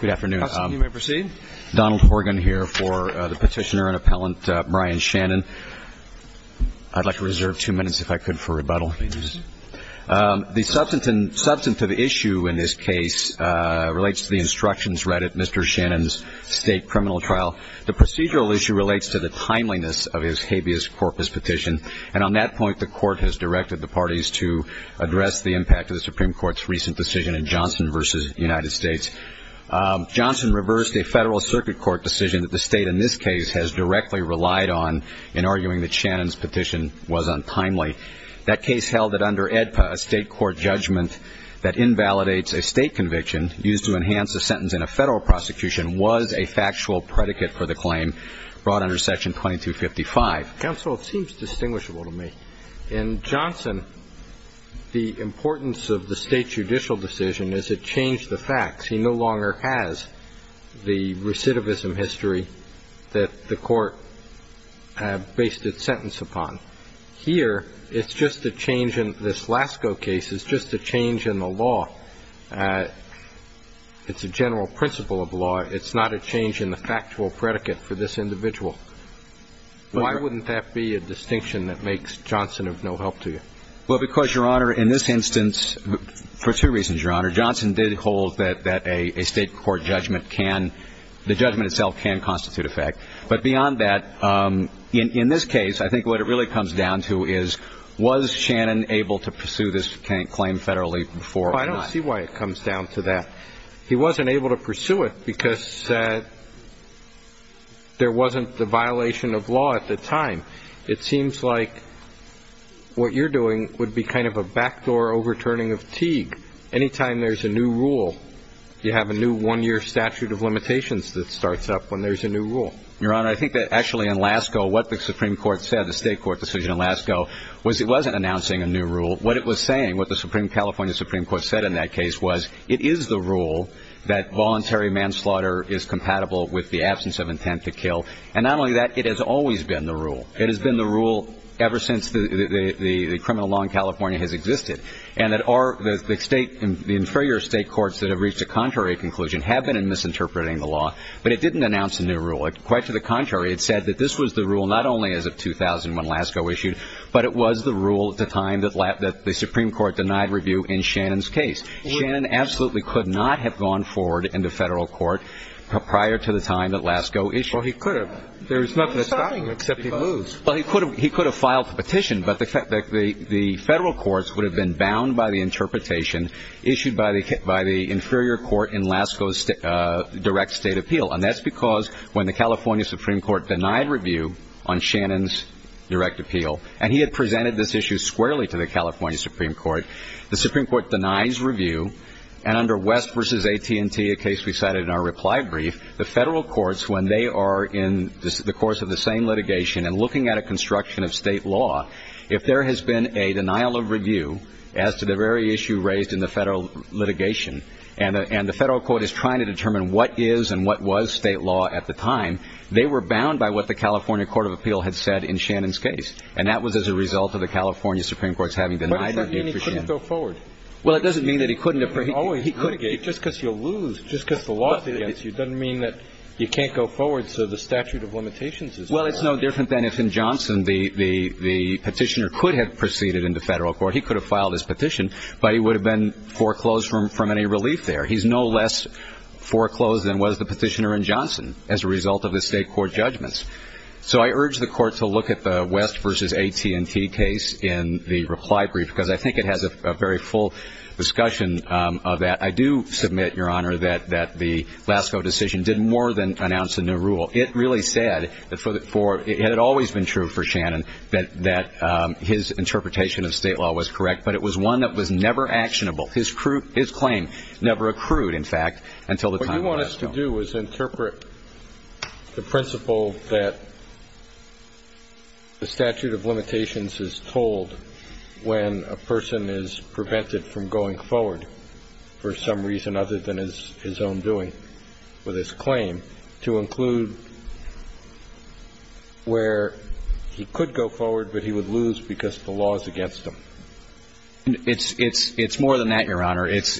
Good afternoon. Donald Horgan here for the petitioner and appellant Brian Shannon. I'd like to reserve two minutes, if I could, for rebuttal. The substantive issue in this case relates to the instructions read at Mr. Shannon's state criminal trial. The procedural issue relates to the timeliness of his habeas corpus petition, and on that point, the court has directed the parties to address the impact of the Supreme Court's recent decision in Johnson v. United States. Johnson reversed a federal circuit court decision that the state in this case has directly relied on in arguing that Shannon's petition was untimely. That case held that under AEDPA, a state court judgment that invalidates a state conviction used to enhance a sentence in a federal prosecution was a factual predicate for the claim brought under Section 2255. Counsel, it seems distinguishable to me. In Johnson, the importance of the state judicial decision is it changed the facts. He no longer has the recidivism history that the court based its sentence upon. Here, it's just a change in this Lasko case. It's just a change in the law. It's a general principle of law. It's not a change in the factual predicate for this individual. Why wouldn't that be a distinction that makes Johnson of no help to you? Well, because, Your Honor, in this instance, for two reasons, Your Honor. Johnson did hold that a state court judgment can – the judgment itself can constitute a fact. But beyond that, in this case, I think what it really comes down to is, was Shannon able to pursue this claim federally before – Well, I don't see why it comes down to that. He wasn't able to pursue it because there wasn't the violation of law at the time. It seems like what you're doing would be kind of a backdoor overturning of Teague. Any time there's a new rule, you have a new one-year statute of limitations that starts up when there's a new rule. Your Honor, I think that actually in Lasko, what the Supreme Court said, the state court decision in Lasko, was it wasn't announcing a new rule. What it was saying, what the California Supreme Court said in that case was it is the rule that voluntary manslaughter is compatible with the absence of intent to kill. And not only that, it has always been the rule. It has been the rule ever since the criminal law in California has existed. And the inferior state courts that have reached a contrary conclusion have been in misinterpreting the law. But it didn't announce a new rule. Quite to the contrary, it said that this was the rule not only as of 2000 when Lasko issued, but it was the rule at the time that the Supreme Court denied review in Shannon's case. Shannon absolutely could not have gone forward in the federal court prior to the time that Lasko issued. Well, he could have. There's nothing stopping him except he moves. Well, he could have filed the petition, but the federal courts would have been bound by the interpretation issued by the inferior court in Lasko's direct state appeal. And that's because when the California Supreme Court denied review on Shannon's direct appeal, and he had presented this issue squarely to the California Supreme Court, the Supreme Court denies review. And under West v. AT&T, a case we cited in our reply brief, the federal courts, when they are in the course of the same litigation and looking at a construction of state law, if there has been a denial of review as to the very issue raised in the federal litigation, and the federal court is trying to determine what is and what was state law at the time, they were bound by what the California Court of Appeal had said in Shannon's case. And that was as a result of the California Supreme Court's having denied review for Shannon. But does that mean he couldn't go forward? Well, it doesn't mean that he couldn't. Just because you lose, just because the law is against you, doesn't mean that you can't go forward, so the statute of limitations is there. Well, it's no different than if in Johnson the petitioner could have proceeded into federal court. He could have filed his petition, but he would have been foreclosed from any relief there. He's no less foreclosed than was the petitioner in Johnson as a result of the state court judgments. So I urge the court to look at the West v. AT&T case in the reply brief, because I think it has a very full discussion of that. I do submit, Your Honor, that the Lasko decision did more than announce a new rule. It really said that it had always been true for Shannon that his interpretation of state law was correct, but it was one that was never actionable. His claim never accrued, in fact, until the time of Lasko. What I would like us to do is interpret the principle that the statute of limitations is told when a person is prevented from going forward for some reason other than his own doing with his claim to include where he could go forward, but he would lose because the law is against him. It's more than that, Your Honor. It's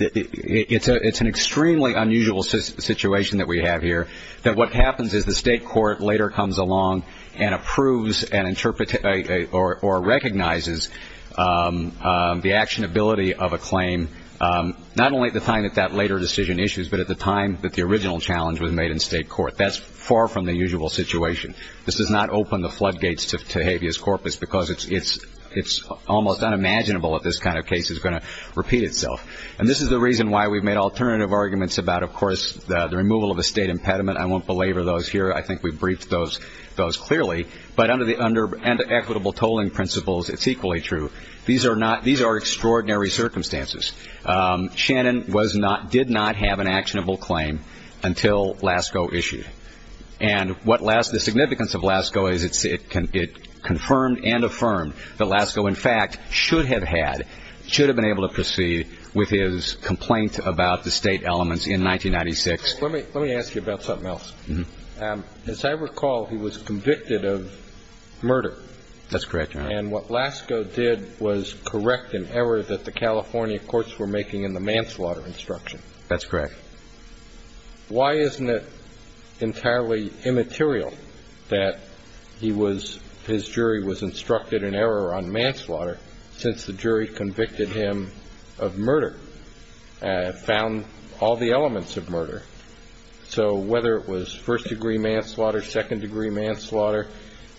an extremely unusual situation that we have here, that what happens is the state court later comes along and approves or recognizes the actionability of a claim not only at the time that that later decision issues, but at the time that the original challenge was made in state court. That's far from the usual situation. This does not open the floodgates to habeas corpus, because it's almost unimaginable that this kind of case is going to repeat itself. And this is the reason why we've made alternative arguments about, of course, the removal of a state impediment. I won't belabor those here. I think we've briefed those clearly. But under equitable tolling principles, it's equally true. These are extraordinary circumstances. Shannon did not have an actionable claim until Lasko issued. And the significance of Lasko is it confirmed and affirmed that Lasko, in fact, should have had, should have been able to proceed with his complaint about the state elements in 1996. Let me ask you about something else. As I recall, he was convicted of murder. That's correct, Your Honor. And what Lasko did was correct an error that the California courts were making in the manslaughter instruction. That's correct. Why isn't it entirely immaterial that he was, his jury was instructed in error on manslaughter, since the jury convicted him of murder, found all the elements of murder? So whether it was first-degree manslaughter, second-degree manslaughter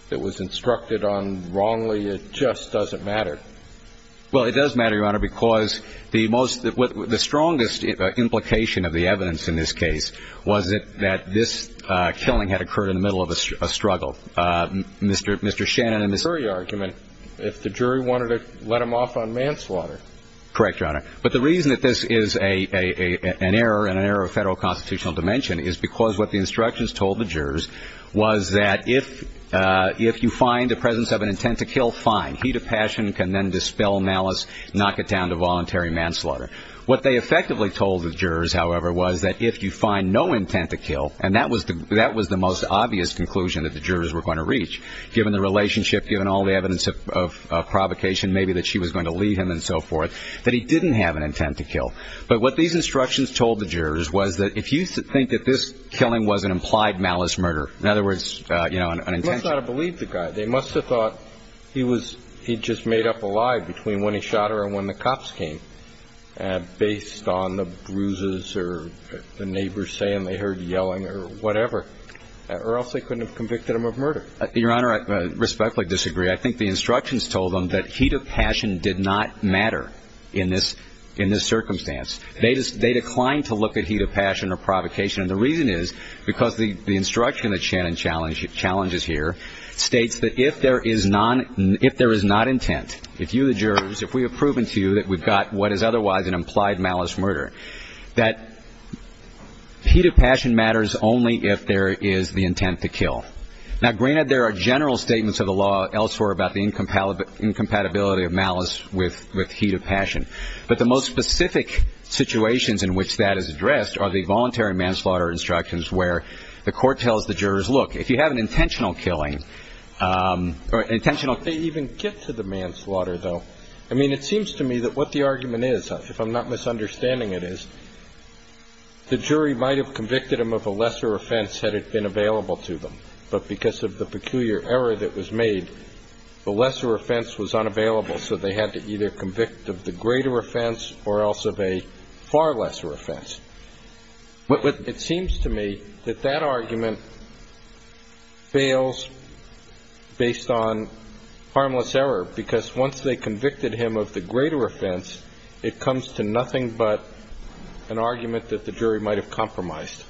that was instructed on wrongly, it just doesn't matter. Well, it does matter, Your Honor, because the most, the strongest implication of the evidence in this case was that this killing had occurred in the middle of a struggle. Mr. Shannon and Ms. The jury argument, if the jury wanted to let him off on manslaughter. Correct, Your Honor. But the reason that this is an error, an error of federal constitutional dimension, is because what the instructions told the jurors was that if you find the presence of an intent to kill, fine. Heat of passion can then dispel malice, knock it down to voluntary manslaughter. What they effectively told the jurors, however, was that if you find no intent to kill, and that was the most obvious conclusion that the jurors were going to reach, given the relationship, given all the evidence of provocation, maybe that she was going to leave him and so forth, that he didn't have an intent to kill. But what these instructions told the jurors was that if you think that this killing was an implied malice murder, in other words, you know, an intention. They must not have believed the guy. They must have thought he just made up a lie between when he shot her and when the cops came, based on the bruises or the neighbors saying they heard yelling or whatever, or else they couldn't have convicted him of murder. Your Honor, I respectfully disagree. I think the instructions told them that heat of passion did not matter in this circumstance. They declined to look at heat of passion or provocation. The reason is because the instruction that Shannon challenges here states that if there is not intent, if you, the jurors, if we have proven to you that we've got what is otherwise an implied malice murder, that heat of passion matters only if there is the intent to kill. Now, granted there are general statements of the law elsewhere about the incompatibility of malice with heat of passion, but the most specific situations in which that is addressed are the voluntary manslaughter instructions where the court tells the jurors, look, if you have an intentional killing or intentional killing. They even get to the manslaughter, though. I mean, it seems to me that what the argument is, if I'm not misunderstanding it, is the jury might have convicted him of a lesser offense had it been available to them, but because of the peculiar error that was made, the lesser offense was unavailable, so they had to either convict of the greater offense or else of a far lesser offense. But it seems to me that that argument fails based on harmless error because once they convicted him of the greater offense, it comes to nothing but an argument that the jury might have compromised.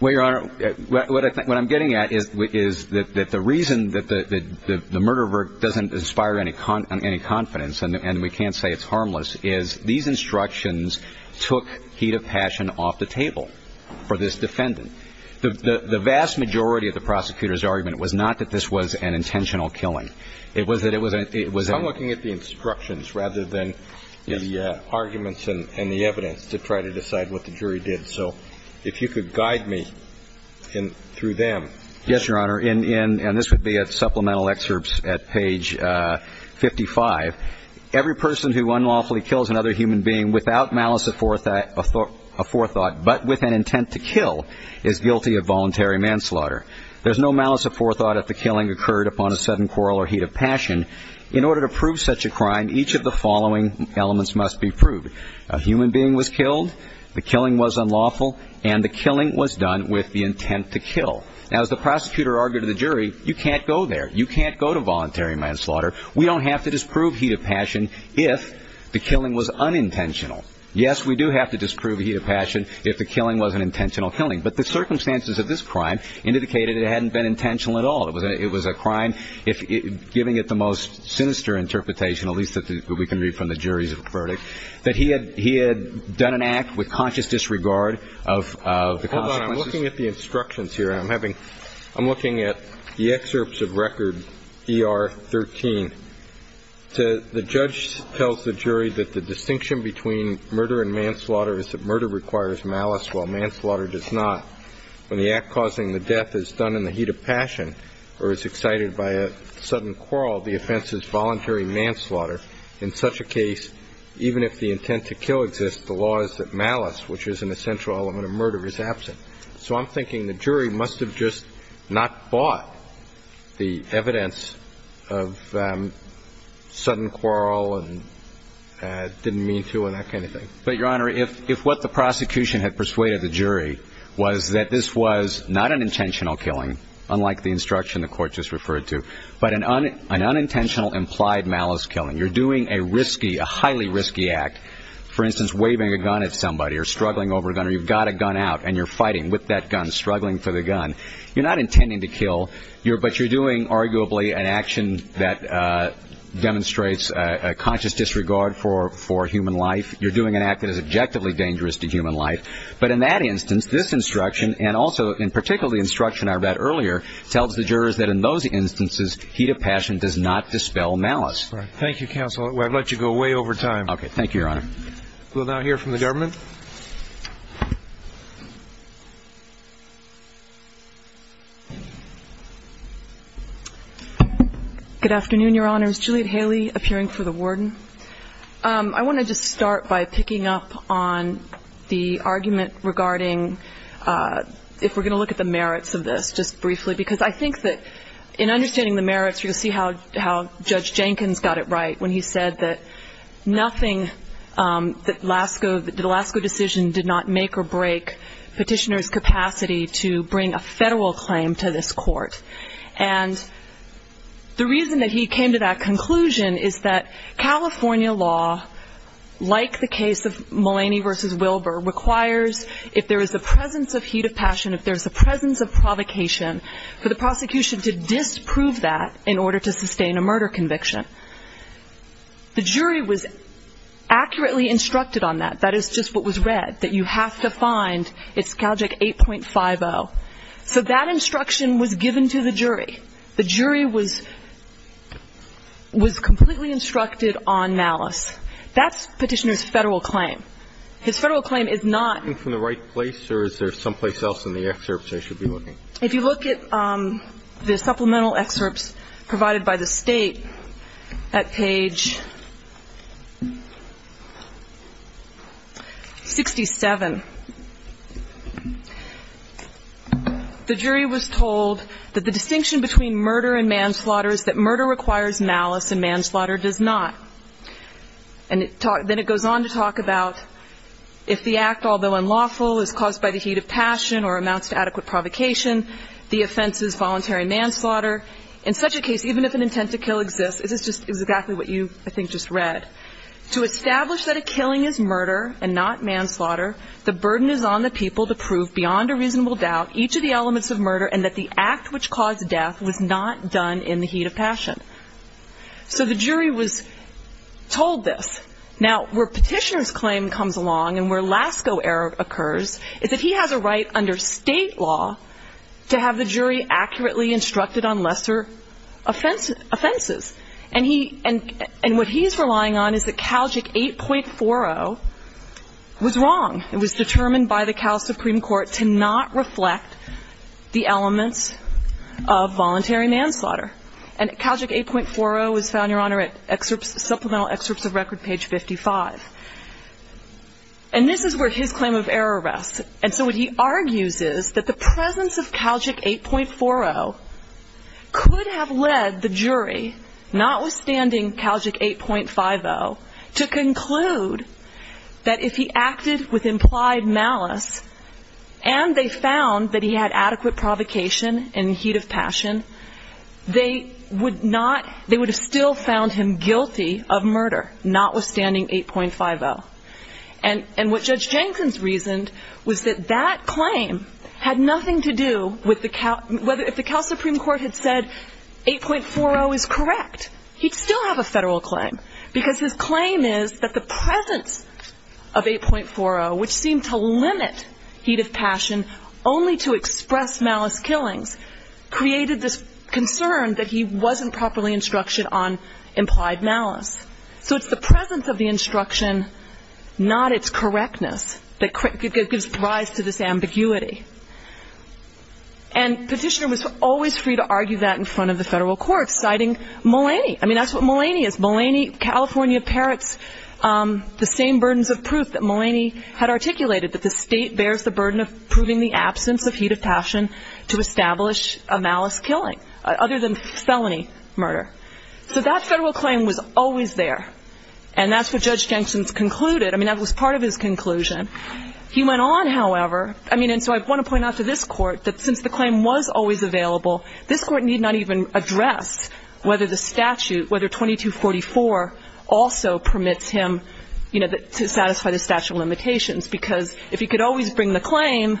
Well, Your Honor, what I'm getting at is that the reason that the murderer doesn't inspire any confidence and we can't say it's harmless is these instructions took heat of passion off the table for this defendant. The vast majority of the prosecutor's argument was not that this was an intentional killing. It was that it was a ñ I'm looking at the instructions rather than the arguments and the evidence to try to decide what the jury did. So if you could guide me through them. Yes, Your Honor, and this would be at supplemental excerpts at page 55. Every person who unlawfully kills another human being without malice of forethought but with an intent to kill is guilty of voluntary manslaughter. There's no malice of forethought if the killing occurred upon a sudden quarrel or heat of passion. In order to prove such a crime, each of the following elements must be proved. A human being was killed, the killing was unlawful, and the killing was done with the intent to kill. Now, as the prosecutor argued to the jury, you can't go there. You can't go to voluntary manslaughter. We don't have to disprove heat of passion if the killing was unintentional. Yes, we do have to disprove heat of passion if the killing was an intentional killing. But the circumstances of this crime indicated it hadn't been intentional at all. It was a crime, giving it the most sinister interpretation, at least that we can read from the jury's verdict, that he had done an act with conscious disregard of the consequences. Hold on. I'm looking at the instructions here. I'm looking at the excerpts of Record ER-13. The judge tells the jury that the distinction between murder and manslaughter is that murder requires malice while manslaughter does not. When the act causing the death is done in the heat of passion or is excited by a sudden quarrel, the offense is voluntary manslaughter. In such a case, even if the intent to kill exists, the law is that malice, which is an essential element of murder, is absent. So I'm thinking the jury must have just not bought the evidence of sudden quarrel and didn't mean to and that kind of thing. But, Your Honor, if what the prosecution had persuaded the jury was that this was not an intentional killing, unlike the instruction the Court just referred to, but an unintentional implied malice killing, you're doing a risky, a highly risky act, for instance, waving a gun at somebody or struggling over a gun or you've got a gun out and you're fighting with that gun, struggling for the gun, you're not intending to kill, but you're doing arguably an action that demonstrates a conscious disregard for human life. You're doing an act that is objectively dangerous to human life. But in that instance, this instruction, and also in particular the instruction I read earlier, tells the jurors that in those instances heat of passion does not dispel malice. Thank you, counsel. I've let you go way over time. Thank you, Your Honor. We'll now hear from the government. Good afternoon, Your Honors. Juliet Haley, appearing for the warden. I want to just start by picking up on the argument regarding if we're going to look at the merits of this just briefly because I think that in understanding the merits, you'll see how Judge Jenkins got it right when he said that nothing, that the Lasko decision did not make or break petitioner's capacity to bring a federal claim to this court. And the reason that he came to that conclusion is that California law, like the case of Mulaney v. Wilbur, requires if there is a presence of heat of passion, if there's a presence of provocation, for the prosecution to disprove that in order to sustain a murder conviction. The jury was accurately instructed on that. That is just what was read, that you have to find, it's GALJEC 8.50. So that instruction was given to the jury. The jury was completely instructed on malice. That's petitioner's federal claim. His federal claim is not. Are we starting from the right place, or is there someplace else in the excerpts I should be looking? If you look at the supplemental excerpts provided by the State at page 67, the jury was told that the distinction between murder and manslaughter is that murder requires malice and manslaughter does not. And then it goes on to talk about if the act, although unlawful, is caused by the heat of passion or amounts to adequate provocation, the offense is voluntary manslaughter. In such a case, even if an intent to kill exists, this is exactly what you, I think, just read. To establish that a killing is murder and not manslaughter, the burden is on the people to prove beyond a reasonable doubt each of the elements of murder and that the act which caused death was not done in the heat of passion. So the jury was told this. Now, where petitioner's claim comes along and where Lasko error occurs is that he has a right under State law to have the jury accurately instructed on lesser offenses. And what he's relying on is that CalJIC 8.40 was wrong. It was determined by the Cal Supreme Court to not reflect the elements of voluntary manslaughter. And CalJIC 8.40 was found, Your Honor, at supplemental excerpts of record page 55. And this is where his claim of error rests. And so what he argues is that the presence of CalJIC 8.40 could have led the jury, notwithstanding CalJIC 8.50, to conclude that if he acted with implied malice and they found that he had adequate provocation in heat of passion, they would not, they would have still found him guilty of murder, notwithstanding 8.50. And what Judge Jenkins reasoned was that that claim had nothing to do with the Cal, if the Cal Supreme Court had said 8.40 is correct, he'd still have a federal claim because his claim is that the presence of 8.40, which seemed to limit heat of passion only to express malice killings, created this concern that he wasn't properly instructed on implied malice. So it's the presence of the instruction, not its correctness, that gives rise to this ambiguity. And Petitioner was always free to argue that in front of the federal courts, citing Mulaney. I mean, that's what Mulaney is. Mulaney, California parrots, the same burdens of proof that Mulaney had articulated, that the state bears the burden of proving the absence of heat of passion to establish a malice killing, other than felony murder. So that federal claim was always there. And that's what Judge Jenkins concluded. I mean, that was part of his conclusion. He went on, however, I mean, and so I want to point out to this Court that since the claim was always available, this Court need not even address whether the statute, whether 2244, also permits him, you know, to satisfy the statute of limitations. Because if he could always bring the claim,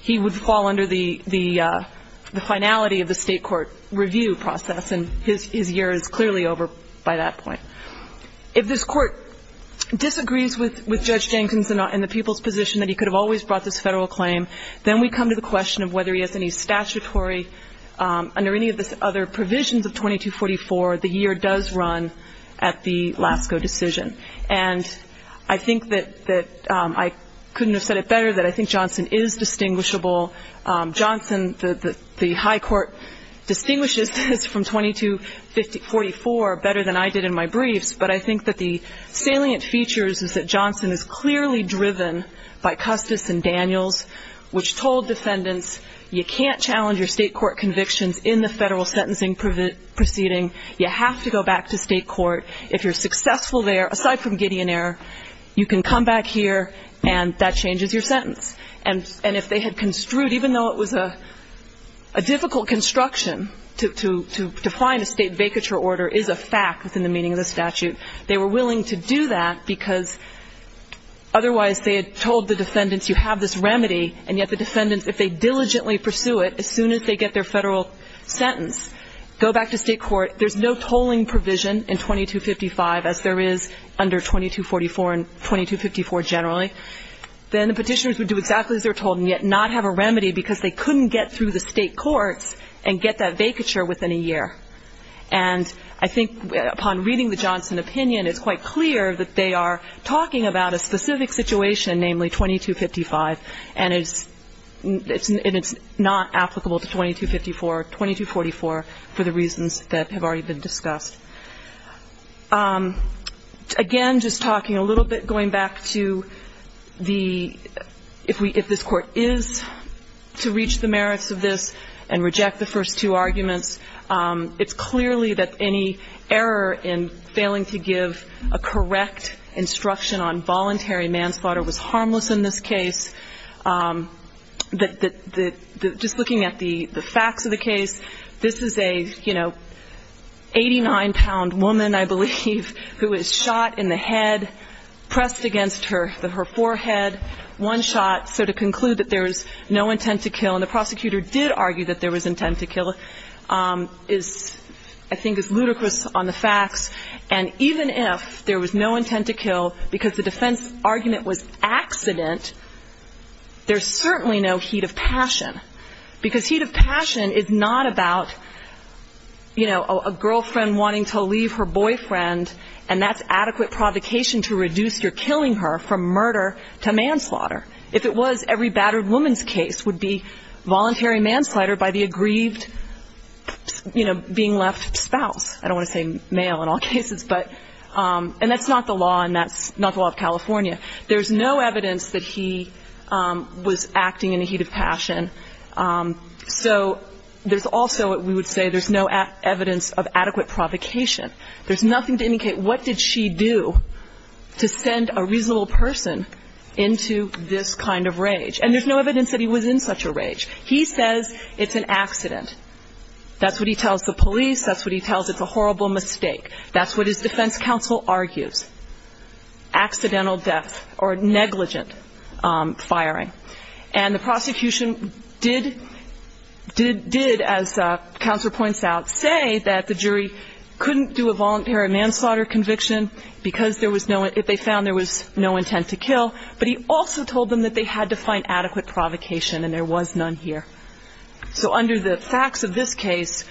he would fall under the finality of the state court review process. And his year is clearly over by that point. If this Court disagrees with Judge Jenkins in the people's position that he could have always brought this federal claim, then we come to the question of whether he has any statutory, under any of the other provisions of 2244, the year does run at the LASCO decision. And I think that I couldn't have said it better that I think Johnson is distinguishable. Johnson, the high court, distinguishes this from 2244 better than I did in my briefs. But I think that the salient features is that Johnson is clearly driven by Custis and Daniels, which told defendants you can't challenge your state court convictions in the federal sentencing proceeding you have to go back to state court. If you're successful there, aside from Gideon error, you can come back here and that changes your sentence. And if they had construed, even though it was a difficult construction to find a state vacature order is a fact within the meaning of the statute, they were willing to do that because otherwise they had told the defendants you have this remedy, and yet the defendants, if they diligently pursue it, as soon as they get their federal sentence, go back to state court, there's no tolling provision in 2255 as there is under 2244 and 2254 generally, then the petitioners would do exactly as they're told and yet not have a remedy because they couldn't get through the state courts and get that vacature within a year. And I think upon reading the Johnson opinion, it's quite clear that they are talking about a specific situation, and namely 2255, and it's not applicable to 2254 or 2244 for the reasons that have already been discussed. Again, just talking a little bit, going back to the, if this Court is to reach the merits of this and reject the first two arguments, it's clearly that any error in failing to give a correct instruction on voluntary manslaughter was harmless in this case. Just looking at the facts of the case, this is a, you know, 89-pound woman, I believe, who was shot in the head, pressed against her forehead, one shot, so to conclude that there was no intent to kill, and the prosecutor did argue that there was intent to kill, is, I think, is ludicrous on the facts. And even if there was no intent to kill because the defense argument was accident, there's certainly no heat of passion, because heat of passion is not about, you know, a girlfriend wanting to leave her boyfriend, and that's adequate provocation to reduce your killing her from murder to manslaughter. If it was, every battered woman's case would be voluntary manslaughter by the aggrieved, you know, being left spouse. I don't want to say male in all cases, but, and that's not the law, and that's not the law of California. There's no evidence that he was acting in a heat of passion. So there's also, we would say, there's no evidence of adequate provocation. There's nothing to indicate what did she do to send a reasonable person into this kind of rage. And there's no evidence that he was in such a rage. He says it's an accident. That's what he tells the police. That's what he tells, it's a horrible mistake. That's what his defense counsel argues, accidental death or negligent firing. And the prosecution did, as Counselor points out, say that the jury couldn't do a voluntary manslaughter conviction because there was no, if they found there was no intent to kill. But he also told them that they had to find adequate provocation, and there was none here. So under the facts of this case,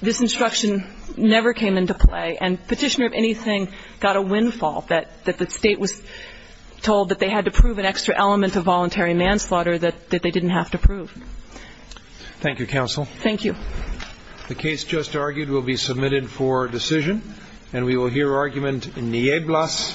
this instruction never came into play, and Petitioner, if anything, got a windfall, that the State was told that they had to prove an extra element of voluntary manslaughter that they didn't have to prove. Thank you, Counsel. Thank you. The case just argued will be submitted for decision, and we will hear argument in Nieblas v. Rimmer.